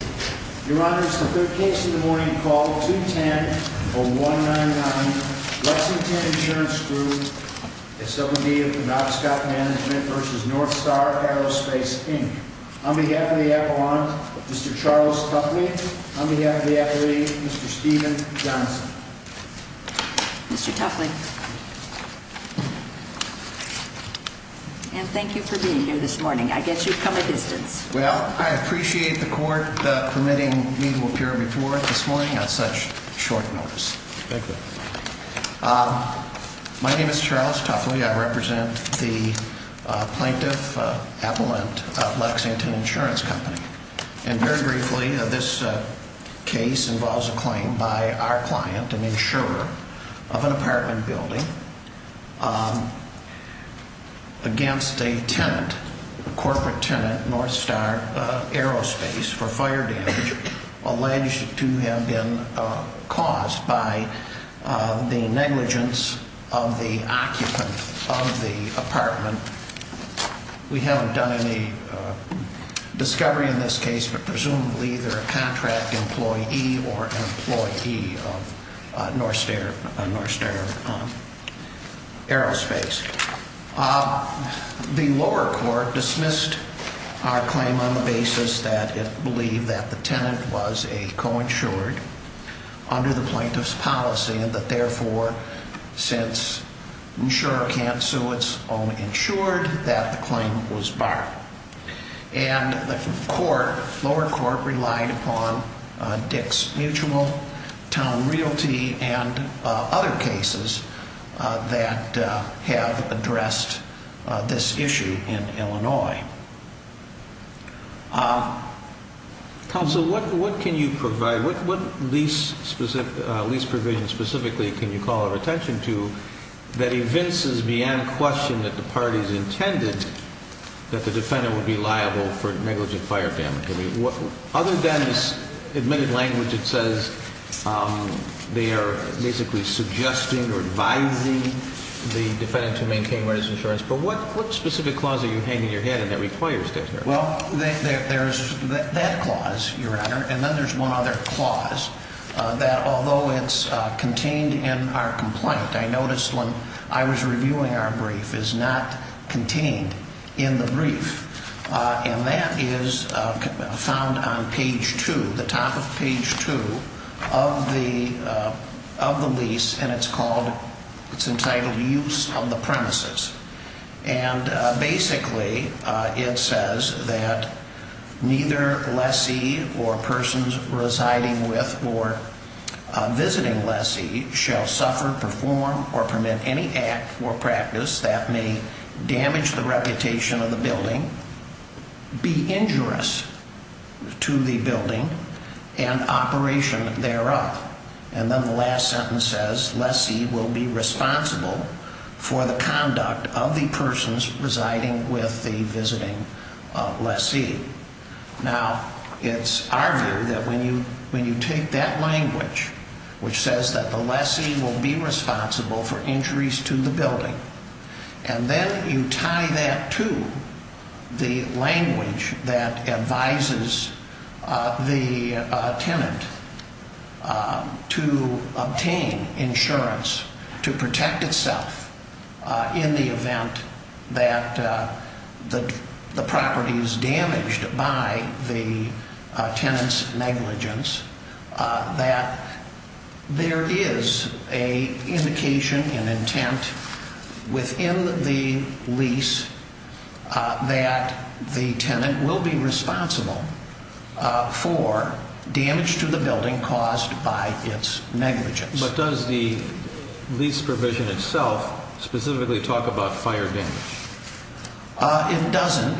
Inc. On behalf of the Aquiline, Mr. Charles Tuffley. On behalf of the Aquiline, Mr. Steven Johnson. Mr. Tuffley, and thank you for being here this morning. I guess you've come a distance. Well, I appreciate the court permitting me to appear before it this morning on such short notice. My name is Charles Tuffley. I represent the Plaintiff Appellant of Lexington Insurance Company. And very briefly, this case involves a claim by our client, an insurer, of an apartment building against a tenant, a corporate tenant, Northstar Aerospace, for fire damage alleged to have been caused by the negligence of the occupant of the apartment. We haven't done any discovery in this case, but presumably they're a contract employee or an employee of Northstar Aerospace. The lower court dismissed our claim on the basis that it believed that the tenant was a co-insured under the plaintiff's policy and that, therefore, since insurer can't sue, it's only insured that the claim was barred. And the lower court relied upon Dick's Mutual, Town Realty, and other cases that have addressed this issue in Illinois. Counsel, what can you provide? What lease provision specifically can you call our attention to that evinces beyond question that the parties intended that the defendant would be liable for negligent fire damage? I mean, other than this admitted language that says they are basically suggesting or advising the defendant to maintain where there's insurance. But what specific clause are you hanging in your head that requires that? Well, there's that clause, Your Honor, and then there's one other clause that, although it's contained in our complaint, I noticed when I was reviewing our brief, is not contained in the brief. And that is found on page two, the top of page two of the lease, and it's called, it's entitled Use of the Premises. And basically it says that neither lessee or persons residing with or visiting lessee shall suffer, perform, or permit any act or practice that may damage the reputation of the building, be injurious to the building, and operation thereof. And then the last sentence says lessee will be responsible for the conduct of the persons residing with the visiting lessee. Now, it's our view that when you take that language, which says that the lessee will be responsible for injuries to the building, and then you tie that to the language that advises the tenant to obtain insurance to protect itself in the event that the property is damaged. By the tenant's negligence, that there is a indication and intent within the lease that the tenant will be responsible for damage to the building caused by its negligence. But does the lease provision itself specifically talk about fire damage? It doesn't.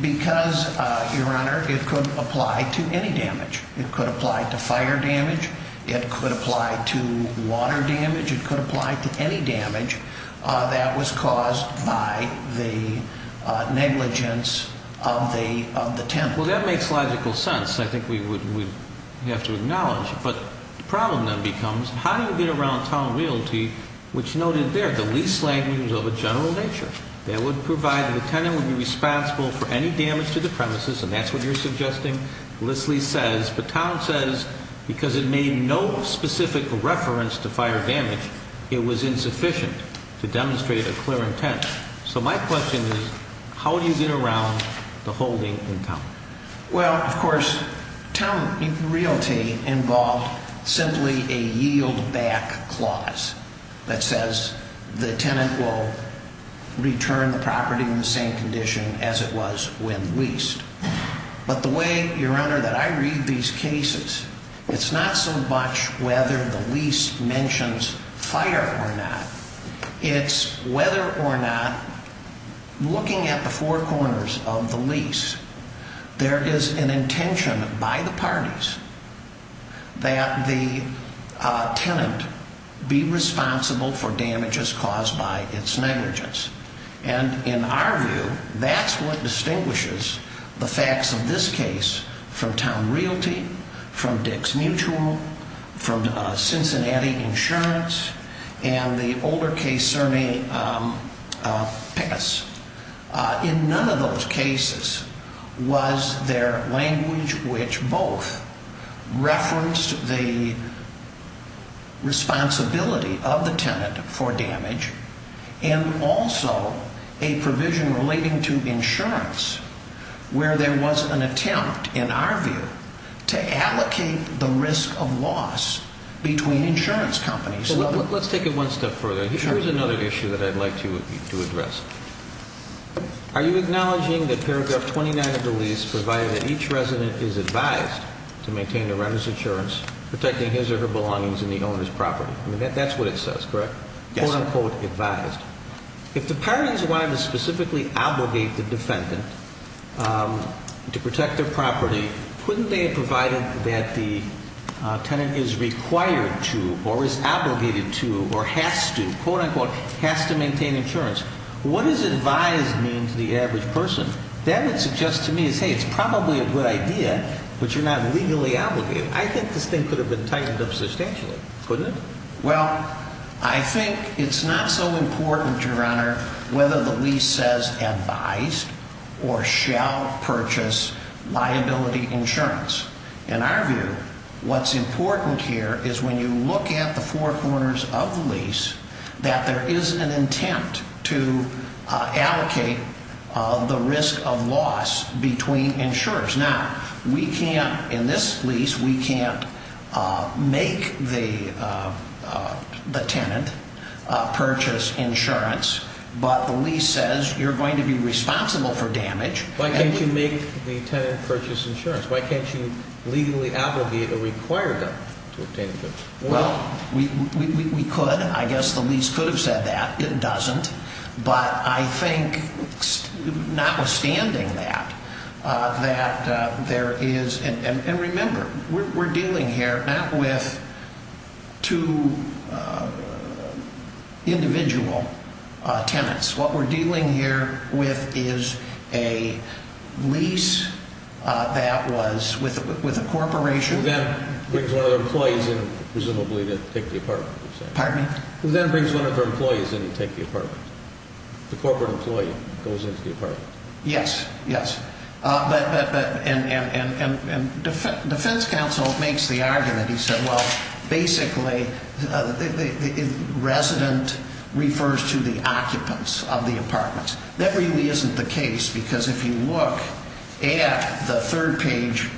Because, Your Honor, it could apply to any damage. It could apply to fire damage. It could apply to water damage. It could apply to any damage that was caused by the negligence of the tenant. Well, that makes logical sense. I think we would have to acknowledge. But the problem then becomes, how do you get around town realty, which noted there, the lease language of a general nature that would provide the tenant would be responsible for any damage to the premises, and that's what you're suggesting? Lessee says, but town says, because it made no specific reference to fire damage, it was insufficient to demonstrate a clear intent. So my question is, how do you get around the holding in town? Well, of course, town realty involved simply a yield back clause that says the tenant will return the property in the same condition as it was when leased. But the way, Your Honor, that I read these cases, it's not so much whether the lease mentions fire or not. It's whether or not, looking at the four corners of the lease, there is an intention by the parties that the tenant be responsible for damages caused by its negligence. And in our view, that's what distinguishes the facts of this case from town realty, from Dick's Mutual, from Cincinnati Insurance, and the older case, Cerny Pickens. In none of those cases was there language which both referenced the responsibility of the tenant for damage and also a provision relating to insurance where there was an attempt, in our view, to allocate the risk of loss between insurance companies. Let's take it one step further. Here's another issue that I'd like to address. Are you acknowledging that paragraph 29 of the lease provided that each resident is advised to maintain the renter's insurance, protecting his or her belongings in the owner's property? That's what it says, correct? Yes, sir. If the parties wanted to specifically obligate the defendant to protect their property, couldn't they have provided that the tenant is required to or is obligated to or has to, quote-unquote, has to maintain insurance? What does advised mean to the average person? That would suggest to me as, hey, it's probably a good idea, but you're not legally obligated. I think this thing could have been tightened up substantially, couldn't it? Well, I think it's not so important, Your Honor, whether the lease says advised or shall purchase liability insurance. In our view, what's important here is when you look at the four corners of the lease, that there is an intent to allocate the risk of loss between insurers. Now, we can't, in this lease, we can't make the tenant purchase insurance, but the lease says you're going to be responsible for damage. Why can't you make the tenant purchase insurance? Why can't you legally obligate a required debt to obtain insurance? Well, we could. I guess the lease could have said that. It doesn't, but I think notwithstanding that, that there is, and remember, we're dealing here not with two individual tenants. What we're dealing here with is a lease that was with a corporation. Who then brings one of their employees in, presumably to take the apartment, you're saying? Pardon me? Who then brings one of their employees in to take the apartment. The corporate employee goes into the apartment. Yes, yes. And defense counsel makes the argument, he said, well, basically, resident refers to the occupants of the apartments. That really isn't the case, because if you look at the third page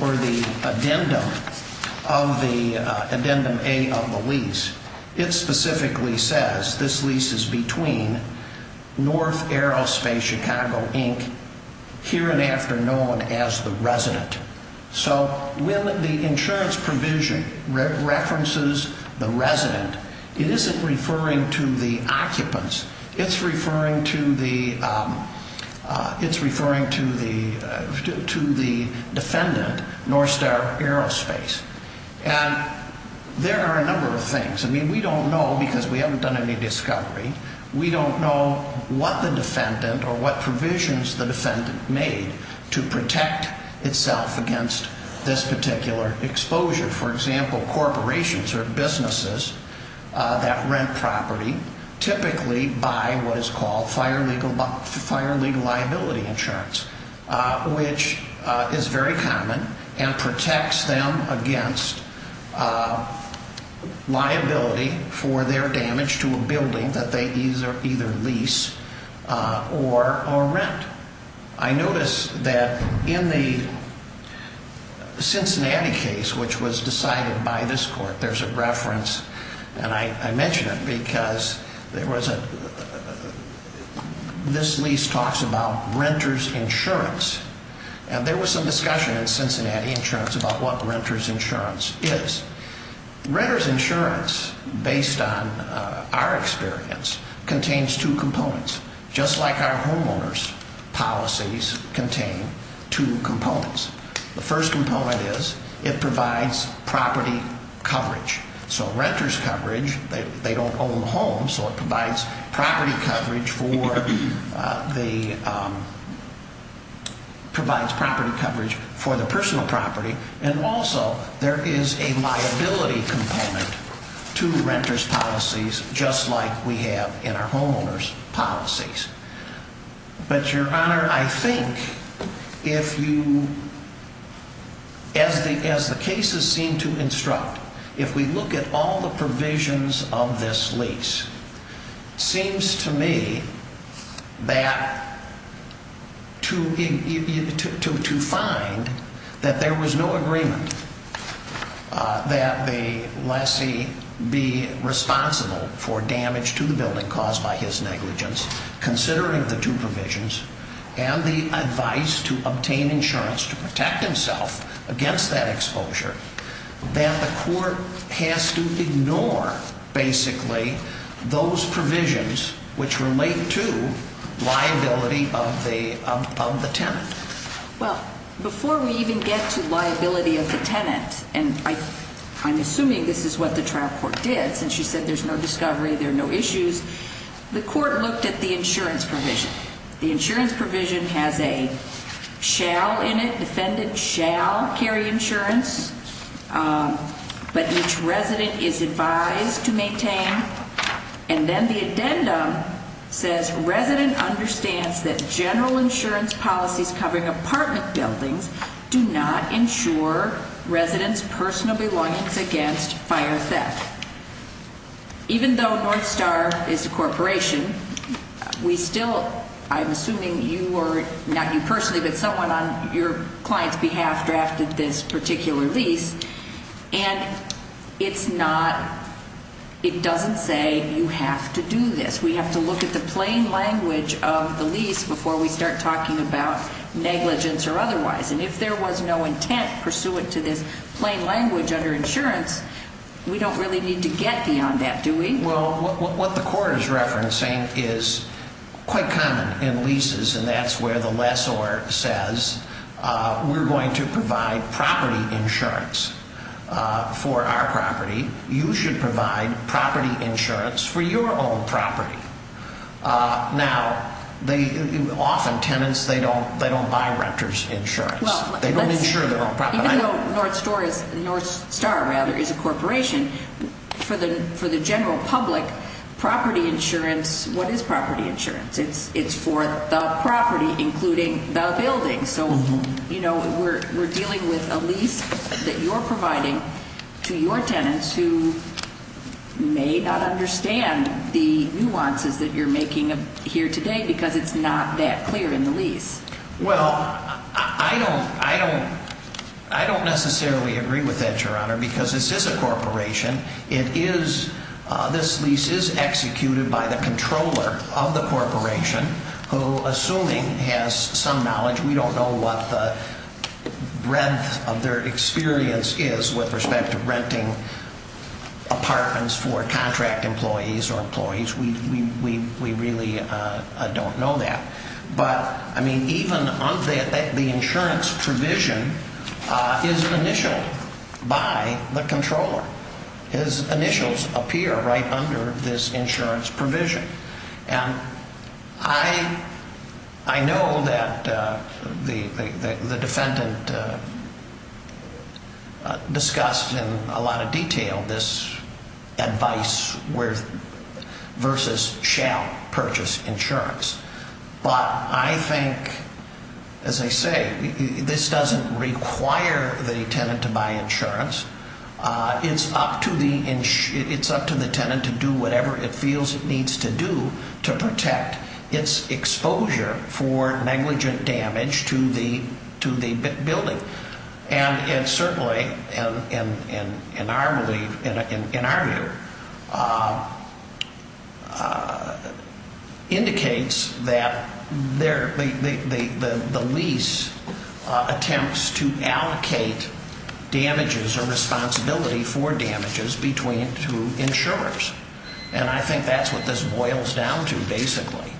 or the addendum of the, addendum A of the lease, it specifically says, this lease is between North Aerospace Chicago, Inc., here and after known as the resident. So when the insurance provision references the resident, it isn't referring to the occupants. It's referring to the defendant, Northstar Aerospace. And there are a number of things. I mean, we don't know, because we haven't done any discovery. We don't know what the defendant or what provisions the defendant made to protect itself against this particular exposure. For example, corporations or businesses that rent property typically buy what is called fire legal liability insurance, which is very common and protects them against liability for their damage to a building that they either lease or rent. I notice that in the Cincinnati case, which was decided by this court, there's a reference, and I mention it because there was a, this lease talks about renter's insurance. And there was some discussion in Cincinnati insurance about what renter's insurance is. Renter's insurance, based on our experience, contains two components, just like our homeowner's policies contain two components. The first component is it provides property coverage. So renter's coverage, they don't own a home, so it provides property coverage for the, provides property coverage for the personal property. And also, there is a liability component to renter's policies, just like we have in our homeowner's policies. But, Your Honor, I think if you, as the cases seem to instruct, if we look at all the provisions of this lease, seems to me that to find that there was no agreement that the lessee be responsible for damage to the building caused by his negligence, considering the two provisions, and the advice to obtain insurance to protect himself against that exposure, that the court has to ignore, basically, those provisions which relate to liability of the tenant. Well, before we even get to liability of the tenant, and I'm assuming this is what the trial court did, since you said there's no discovery, there are no issues, the court looked at the insurance provision. The insurance provision has a shall in it, defendant shall carry insurance, but each resident is advised to maintain. And then the addendum says resident understands that general insurance policies covering apartment buildings do not insure resident's personal belongings against fire theft. Even though Northstar is a corporation, we still, I'm assuming you were, not you personally, but someone on your client's behalf drafted this particular lease, and it's not, it doesn't say you have to do this. We have to look at the plain language of the lease before we start talking about negligence or otherwise, and if there was no intent pursuant to this plain language under insurance, we don't really need to get beyond that, do we? Well, what the court is referencing is quite common in leases, and that's where the lessor says, we're going to provide property insurance for our property, you should provide property insurance for your own property. Now, often tenants, they don't buy renters insurance, they don't insure their own property. Even though Northstar is a corporation, for the general public, property insurance, what is property insurance? It's for the property, including the building, so we're dealing with a lease that you're providing to your tenants who may not understand the nuances that you're making here today because it's not that clear in the lease. Well, I don't necessarily agree with that, Your Honor, because this is a corporation. It is, this lease is executed by the controller of the corporation who, assuming has some knowledge, we don't know what the breadth of their experience is with respect to renting apartments for contract employees or employees. We really don't know that. But, I mean, even the insurance provision is initialed by the controller. His initials appear right under this insurance provision. And I know that the defendant discussed in a lot of detail this advice versus shall purchase insurance, but I think, as I say, this doesn't require the tenant to buy insurance. It's up to the tenant to do whatever it feels it needs to do to protect its exposure for negligent damage to the building. And it certainly, in our view, indicates that the lease attempts to allocate damages or responsibility for damages between two insurers. And I think that's what this boils down to, basically.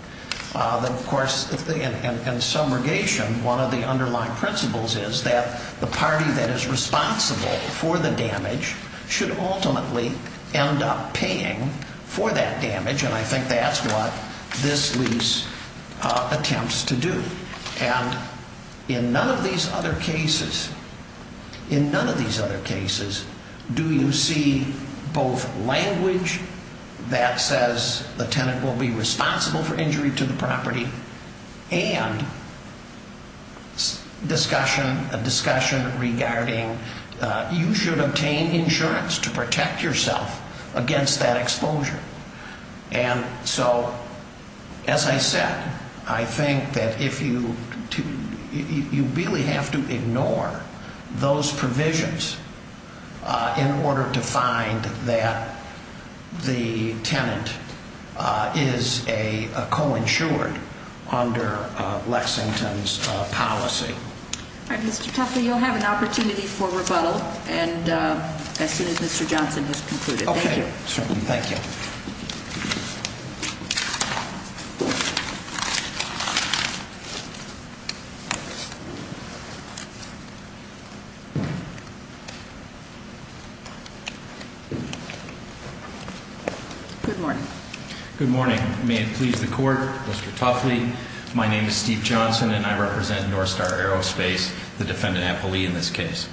Of course, in subrogation, one of the underlying principles is that the party that is responsible for the damage should ultimately end up paying for that damage. And I think that's what this lease attempts to do. And in none of these other cases, do you see both language that says the tenant will be responsible for injury to the property and a discussion regarding you should obtain insurance to protect yourself against that exposure. And so, as I said, I think that you really have to ignore those provisions in order to find that the tenant is a co-insured under Lexington's policy. All right, Mr. Tuffley, you'll have an opportunity for rebuttal as soon as Mr. Johnson has concluded. Okay, certainly. Thank you. Good morning. Good morning. May it please the Court, Mr. Tuffley. My name is Steve Johnson and I represent Northstar Aerospace, the defendant, Apple Lee, in this case.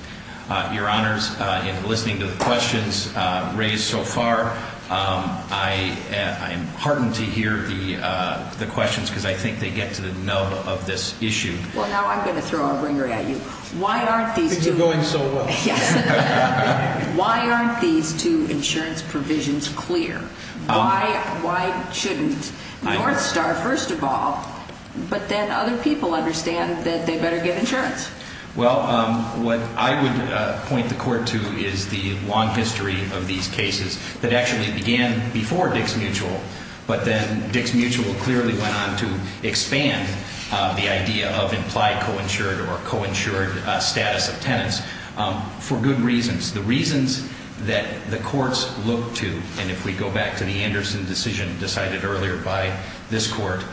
Your Honors, in listening to the questions raised so far, I am heartened to hear the questions because I think they get to the nub of this issue. Well, now I'm going to throw a ringer at you. Why aren't these two insurance provisions clear? Why shouldn't Northstar, first of all, but then other people understand that they better get insurance? Well, what I would point the Court to is the long history of these cases that actually began before Dix Mutual, but then Dix Mutual clearly went on to expand the idea of implied co-insured or co-insured status of tenants for good reasons. The reasons that the courts look to, and if we go back to the Anderson decision decided earlier by this Court,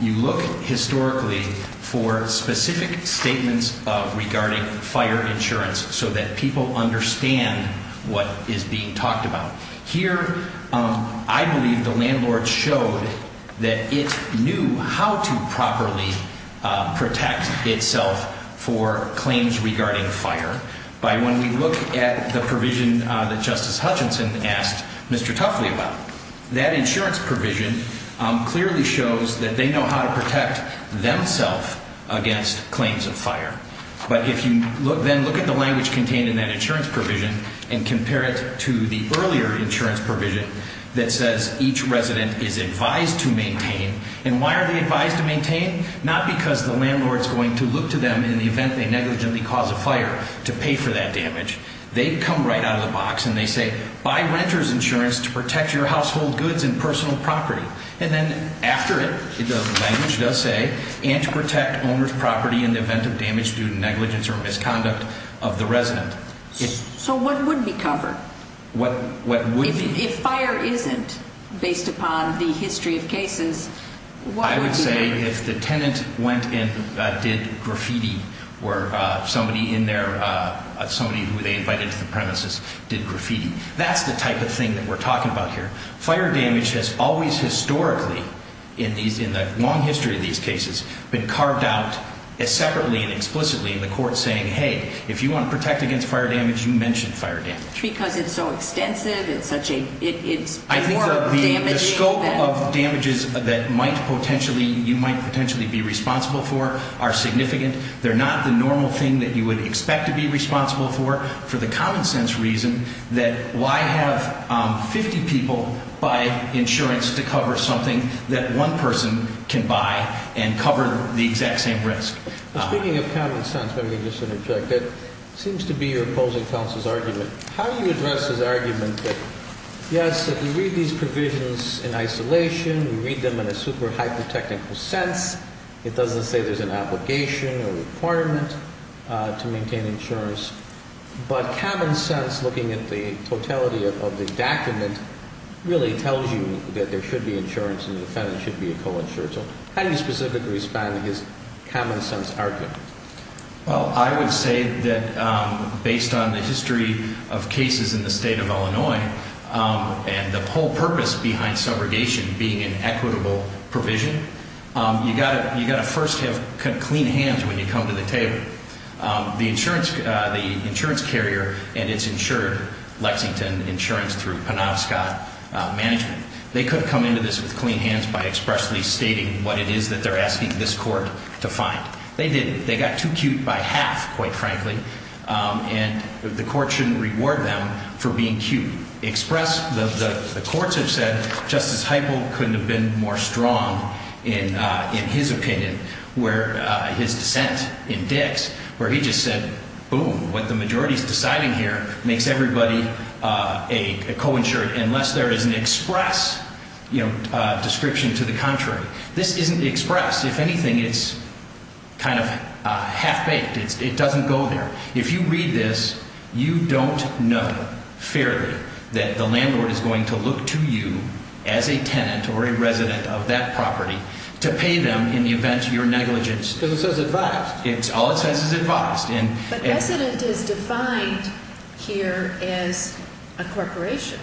you look historically for specific statements regarding fire insurance so that people understand what is being talked about. Here, I believe the landlord showed that it knew how to properly protect itself for claims regarding fire. By when we look at the provision that Justice Hutchinson asked Mr. Tuffley about, that insurance provision clearly shows that they know how to protect themselves against claims of fire. But if you then look at the language contained in that insurance provision and compare it to the earlier insurance provision that says each resident is advised to maintain, and why are they advised to maintain? Not because the landlord is going to look to them in the event they negligently cause a fire to pay for that damage. They come right out of the box and they say, buy renter's insurance to protect your household goods and personal property. And then after it, the language does say, and to protect owner's property in the event of damage due to negligence or misconduct of the resident. So what would be covered? If fire isn't based upon the history of cases, what would be covered? If the tenant went and did graffiti, or somebody in there, somebody who they invited to the premises did graffiti. That's the type of thing that we're talking about here. Fire damage has always historically, in the long history of these cases, been carved out separately and explicitly in the court saying, hey, if you want to protect against fire damage, you mention fire damage. Because it's so extensive, it's more damaging than... The scope of damages that you might potentially be responsible for are significant. They're not the normal thing that you would expect to be responsible for, for the common sense reason that, why have 50 people buy insurance to cover something that one person can buy and cover the exact same risk? Speaking of common sense, let me just interject. How do you address his argument that, yes, if you read these provisions in isolation, you read them in a super-hyper-technical sense, it doesn't say there's an obligation or requirement to maintain insurance. But common sense, looking at the totality of the document, really tells you that there should be insurance, and the defendant should be a co-insurer. So how do you specifically respond to his common sense argument? Well, I would say that, based on the history of cases in the state of Illinois, and the whole purpose behind subrogation being an equitable provision, you've got to first have clean hands when you come to the table. The insurance carrier and its insured, Lexington Insurance, through Penobscot Management, they could come into this with clean hands by expressly stating what it is that they're asking this court to find. They didn't. They got too cute by half, quite frankly, and the court shouldn't reward them for being cute. Express, the courts have said, Justice Heupel couldn't have been more strong in his opinion, where his dissent in Dix, where he just said, boom, what the majority is deciding here makes everybody a co-insured, unless there is an express description to the contrary. This isn't express. If anything, it's kind of half-baked. It doesn't go there. If you read this, you don't know fairly that the landlord is going to look to you as a tenant or a resident of that property to pay them in the event of your negligence. Because it says advised. All it says is advised. But resident is defined here as a corporation.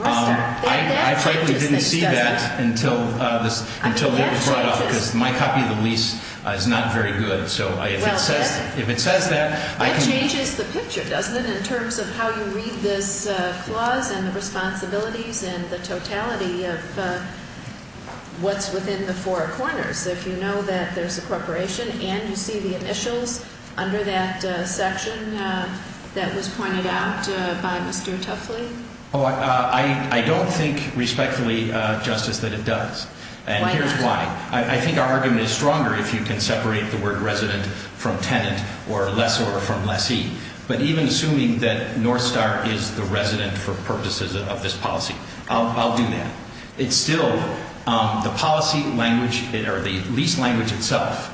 I frankly didn't see that until this was brought up because my copy of the lease is not very good. So if it says that, I can. That changes the picture, doesn't it, in terms of how you read this clause and the responsibilities and the totality of what's within the four corners. If you know that there's a corporation and you see the initials under that section that was pointed out by Mr. Tuffley. I don't think respectfully, Justice, that it does. And here's why. I think our argument is stronger if you can separate the word resident from tenant or lessor from lessee. But even assuming that Northstar is the resident for purposes of this policy, I'll do that. It's still the policy language or the lease language itself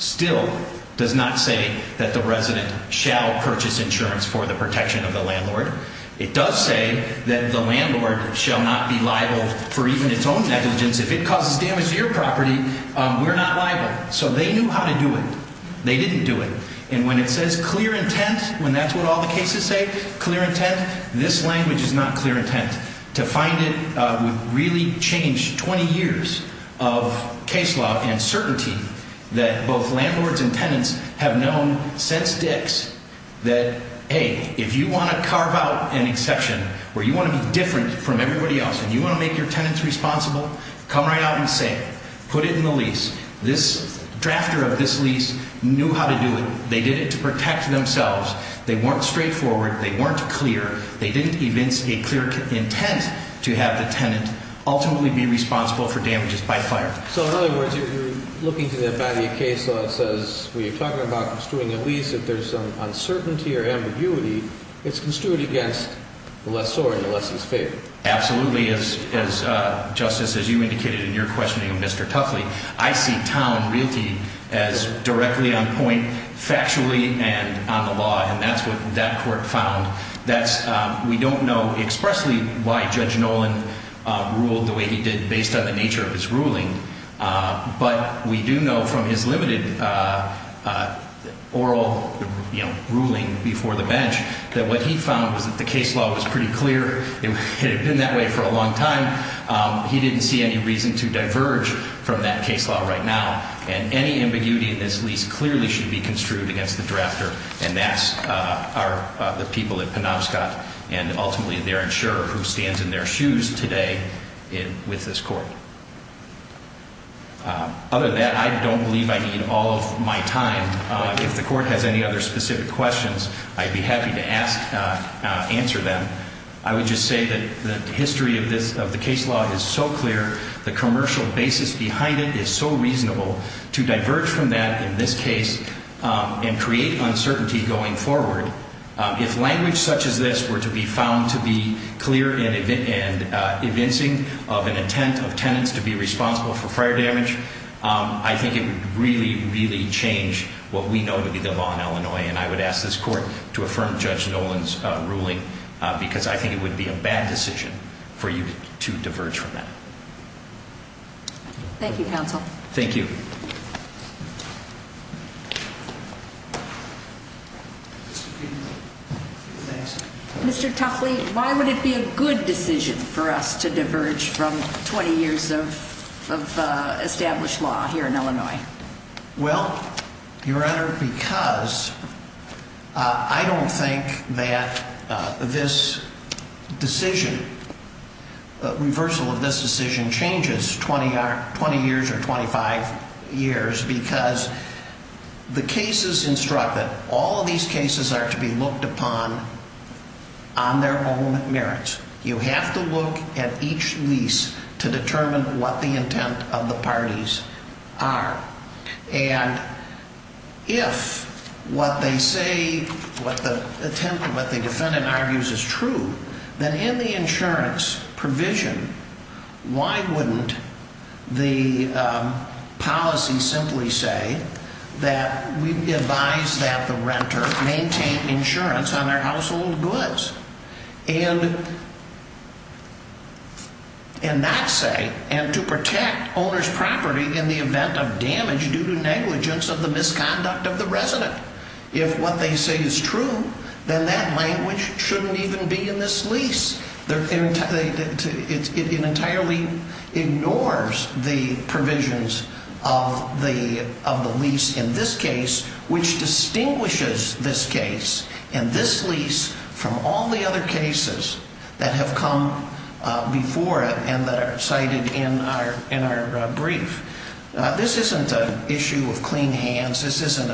still does not say that the resident shall purchase insurance for the protection of the landlord. It does say that the landlord shall not be liable for even its own negligence. If it causes damage to your property, we're not liable. So they knew how to do it. They didn't do it. And when it says clear intent, when that's what all the cases say, clear intent, this language is not clear intent. To find it would really change 20 years of case law and certainty that both landlords and tenants have known since Dick's that, hey, if you want to carve out an exception where you want to be different from everybody else and you want to make your tenants responsible, come right out and say it. Put it in the lease. This drafter of this lease knew how to do it. They did it to protect themselves. They weren't straightforward. They weren't clear. They didn't evince a clear intent to have the tenant ultimately be responsible for damages by fire. So in other words, you're looking to the body of case law that says when you're talking about construing a lease, if there's some uncertainty or ambiguity, it's construed against the lessor and the lessor's favor. Absolutely. As Justice, as you indicated in your questioning of Mr. Tuffley, I see town and realty as directly on point, factually and on the law, and that's what that court found. We don't know expressly why Judge Nolan ruled the way he did based on the nature of his ruling, but we do know from his limited oral ruling before the bench that what he found was that the case law was pretty clear. It had been that way for a long time. He didn't see any reason to diverge from that case law right now, and any ambiguity in this lease clearly should be construed against the drafter, and that's the people at Penobscot and ultimately their insurer who stands in their shoes today with this court. Other than that, I don't believe I need all of my time. If the court has any other specific questions, I'd be happy to answer them. I would just say that the history of the case law is so clear, the commercial basis behind it is so reasonable to diverge from that in this case and create uncertainty going forward. If language such as this were to be found to be clear and convincing of an intent of tenants to be responsible for fire damage, I think it would really, really change what we know to be the law in Illinois, and I would ask this court to affirm Judge Nolan's ruling because I think it would be a bad decision for you to diverge from that. Thank you, counsel. Thank you. Mr. Tuffley, why would it be a good decision for us to diverge from 20 years of established law here in Illinois? Well, Your Honor, because I don't think that this decision, reversal of this decision, changes 20 years or 25 years because the cases instructed, all of these cases are to be looked upon on their own merits. You have to look at each lease to determine what the intent of the parties are. And if what they say, what the defendant argues is true, then in the insurance provision, why wouldn't the policy simply say that we advise that the renter maintain insurance on their household goods? And not say, and to protect owner's property in the event of damage due to negligence of the misconduct of the resident. If what they say is true, then that language shouldn't even be in this lease. It entirely ignores the provisions of the lease in this case, which distinguishes this case and this lease from all the other cases that have come before it and that are cited in our brief. This isn't an issue of clean hands. This isn't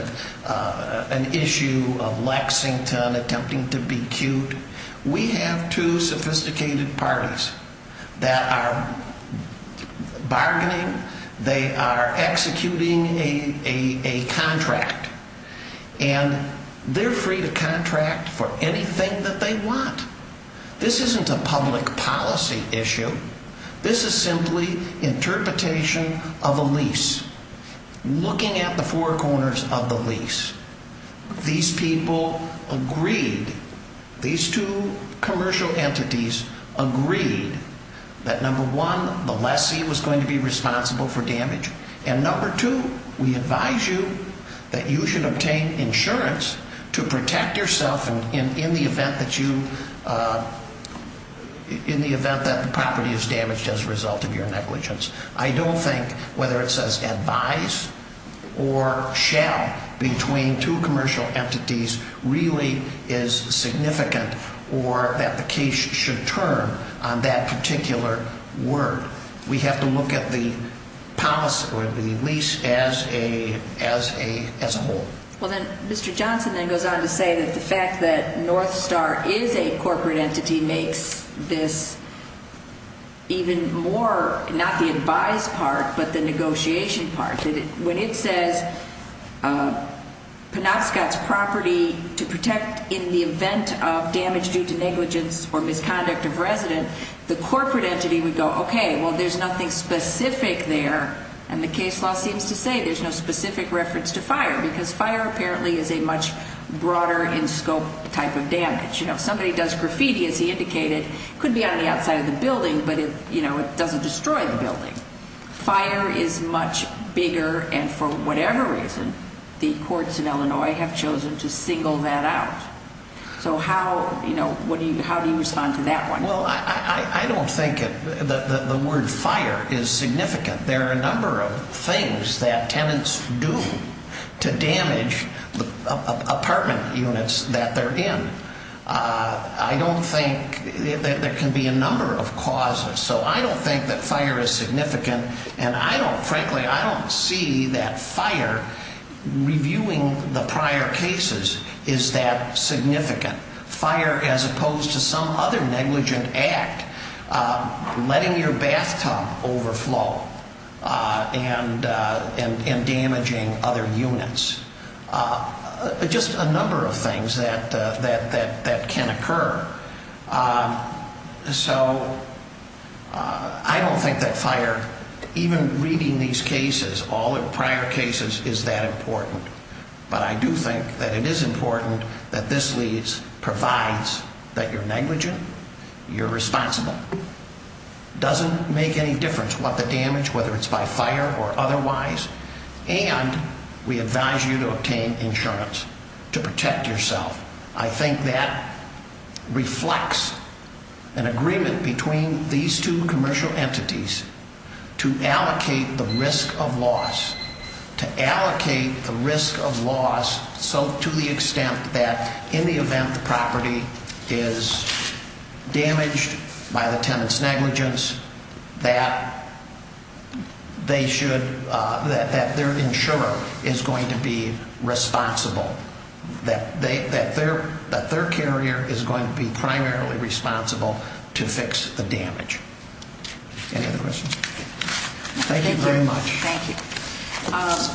an issue of Lexington attempting to be cute. We have two sophisticated parties that are bargaining. They are executing a contract, and they're free to contract for anything that they want. This isn't a public policy issue. This is simply interpretation of a lease. Looking at the four corners of the lease, these people agreed. These two commercial entities agreed that number one, the lessee was going to be responsible for damage, and number two, we advise you that you should obtain insurance to protect yourself in the event that the property is damaged as a result of your negligence. I don't think whether it says advise or shall between two commercial entities really is significant or that the case should turn on that particular word. We have to look at the policy or the lease as a whole. Well, then Mr. Johnson then goes on to say that the fact that Northstar is a corporate entity makes this even more not the advise part but the negotiation part. When it says Penobscot's property to protect in the event of damage due to negligence or misconduct of resident, the corporate entity would go, okay, well, there's nothing specific there, and the case law seems to say there's no specific reference to fire because fire apparently is a much broader in scope type of damage. If somebody does graffiti, as he indicated, it could be on the outside of the building, but it doesn't destroy the building. Fire is much bigger, and for whatever reason, the courts in Illinois have chosen to single that out. So how do you respond to that one? Well, I don't think the word fire is significant. There are a number of things that tenants do to damage apartment units that they're in. I don't think there can be a number of causes. So I don't think that fire is significant, and frankly, I don't see that fire reviewing the prior cases is that significant. Fire, as opposed to some other negligent act, letting your bathtub overflow and damaging other units, just a number of things that can occur. So I don't think that fire, even reading these cases, all the prior cases, is that important. But I do think that it is important that this leads, provides that you're negligent, you're responsible, doesn't make any difference what the damage, whether it's by fire or otherwise, and we advise you to obtain insurance to protect yourself. I think that reflects an agreement between these two commercial entities to allocate the risk of loss, to allocate the risk of loss so to the extent that in the event the property is damaged by the tenant's negligence, that they should, that their insurer is going to be responsible. That their carrier is going to be primarily responsible to fix the damage. Any other questions? Thank you very much. Thank you.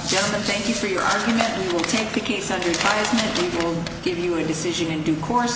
Gentlemen, thank you for your argument. We will take the case under advisement. We will give you a decision in due course.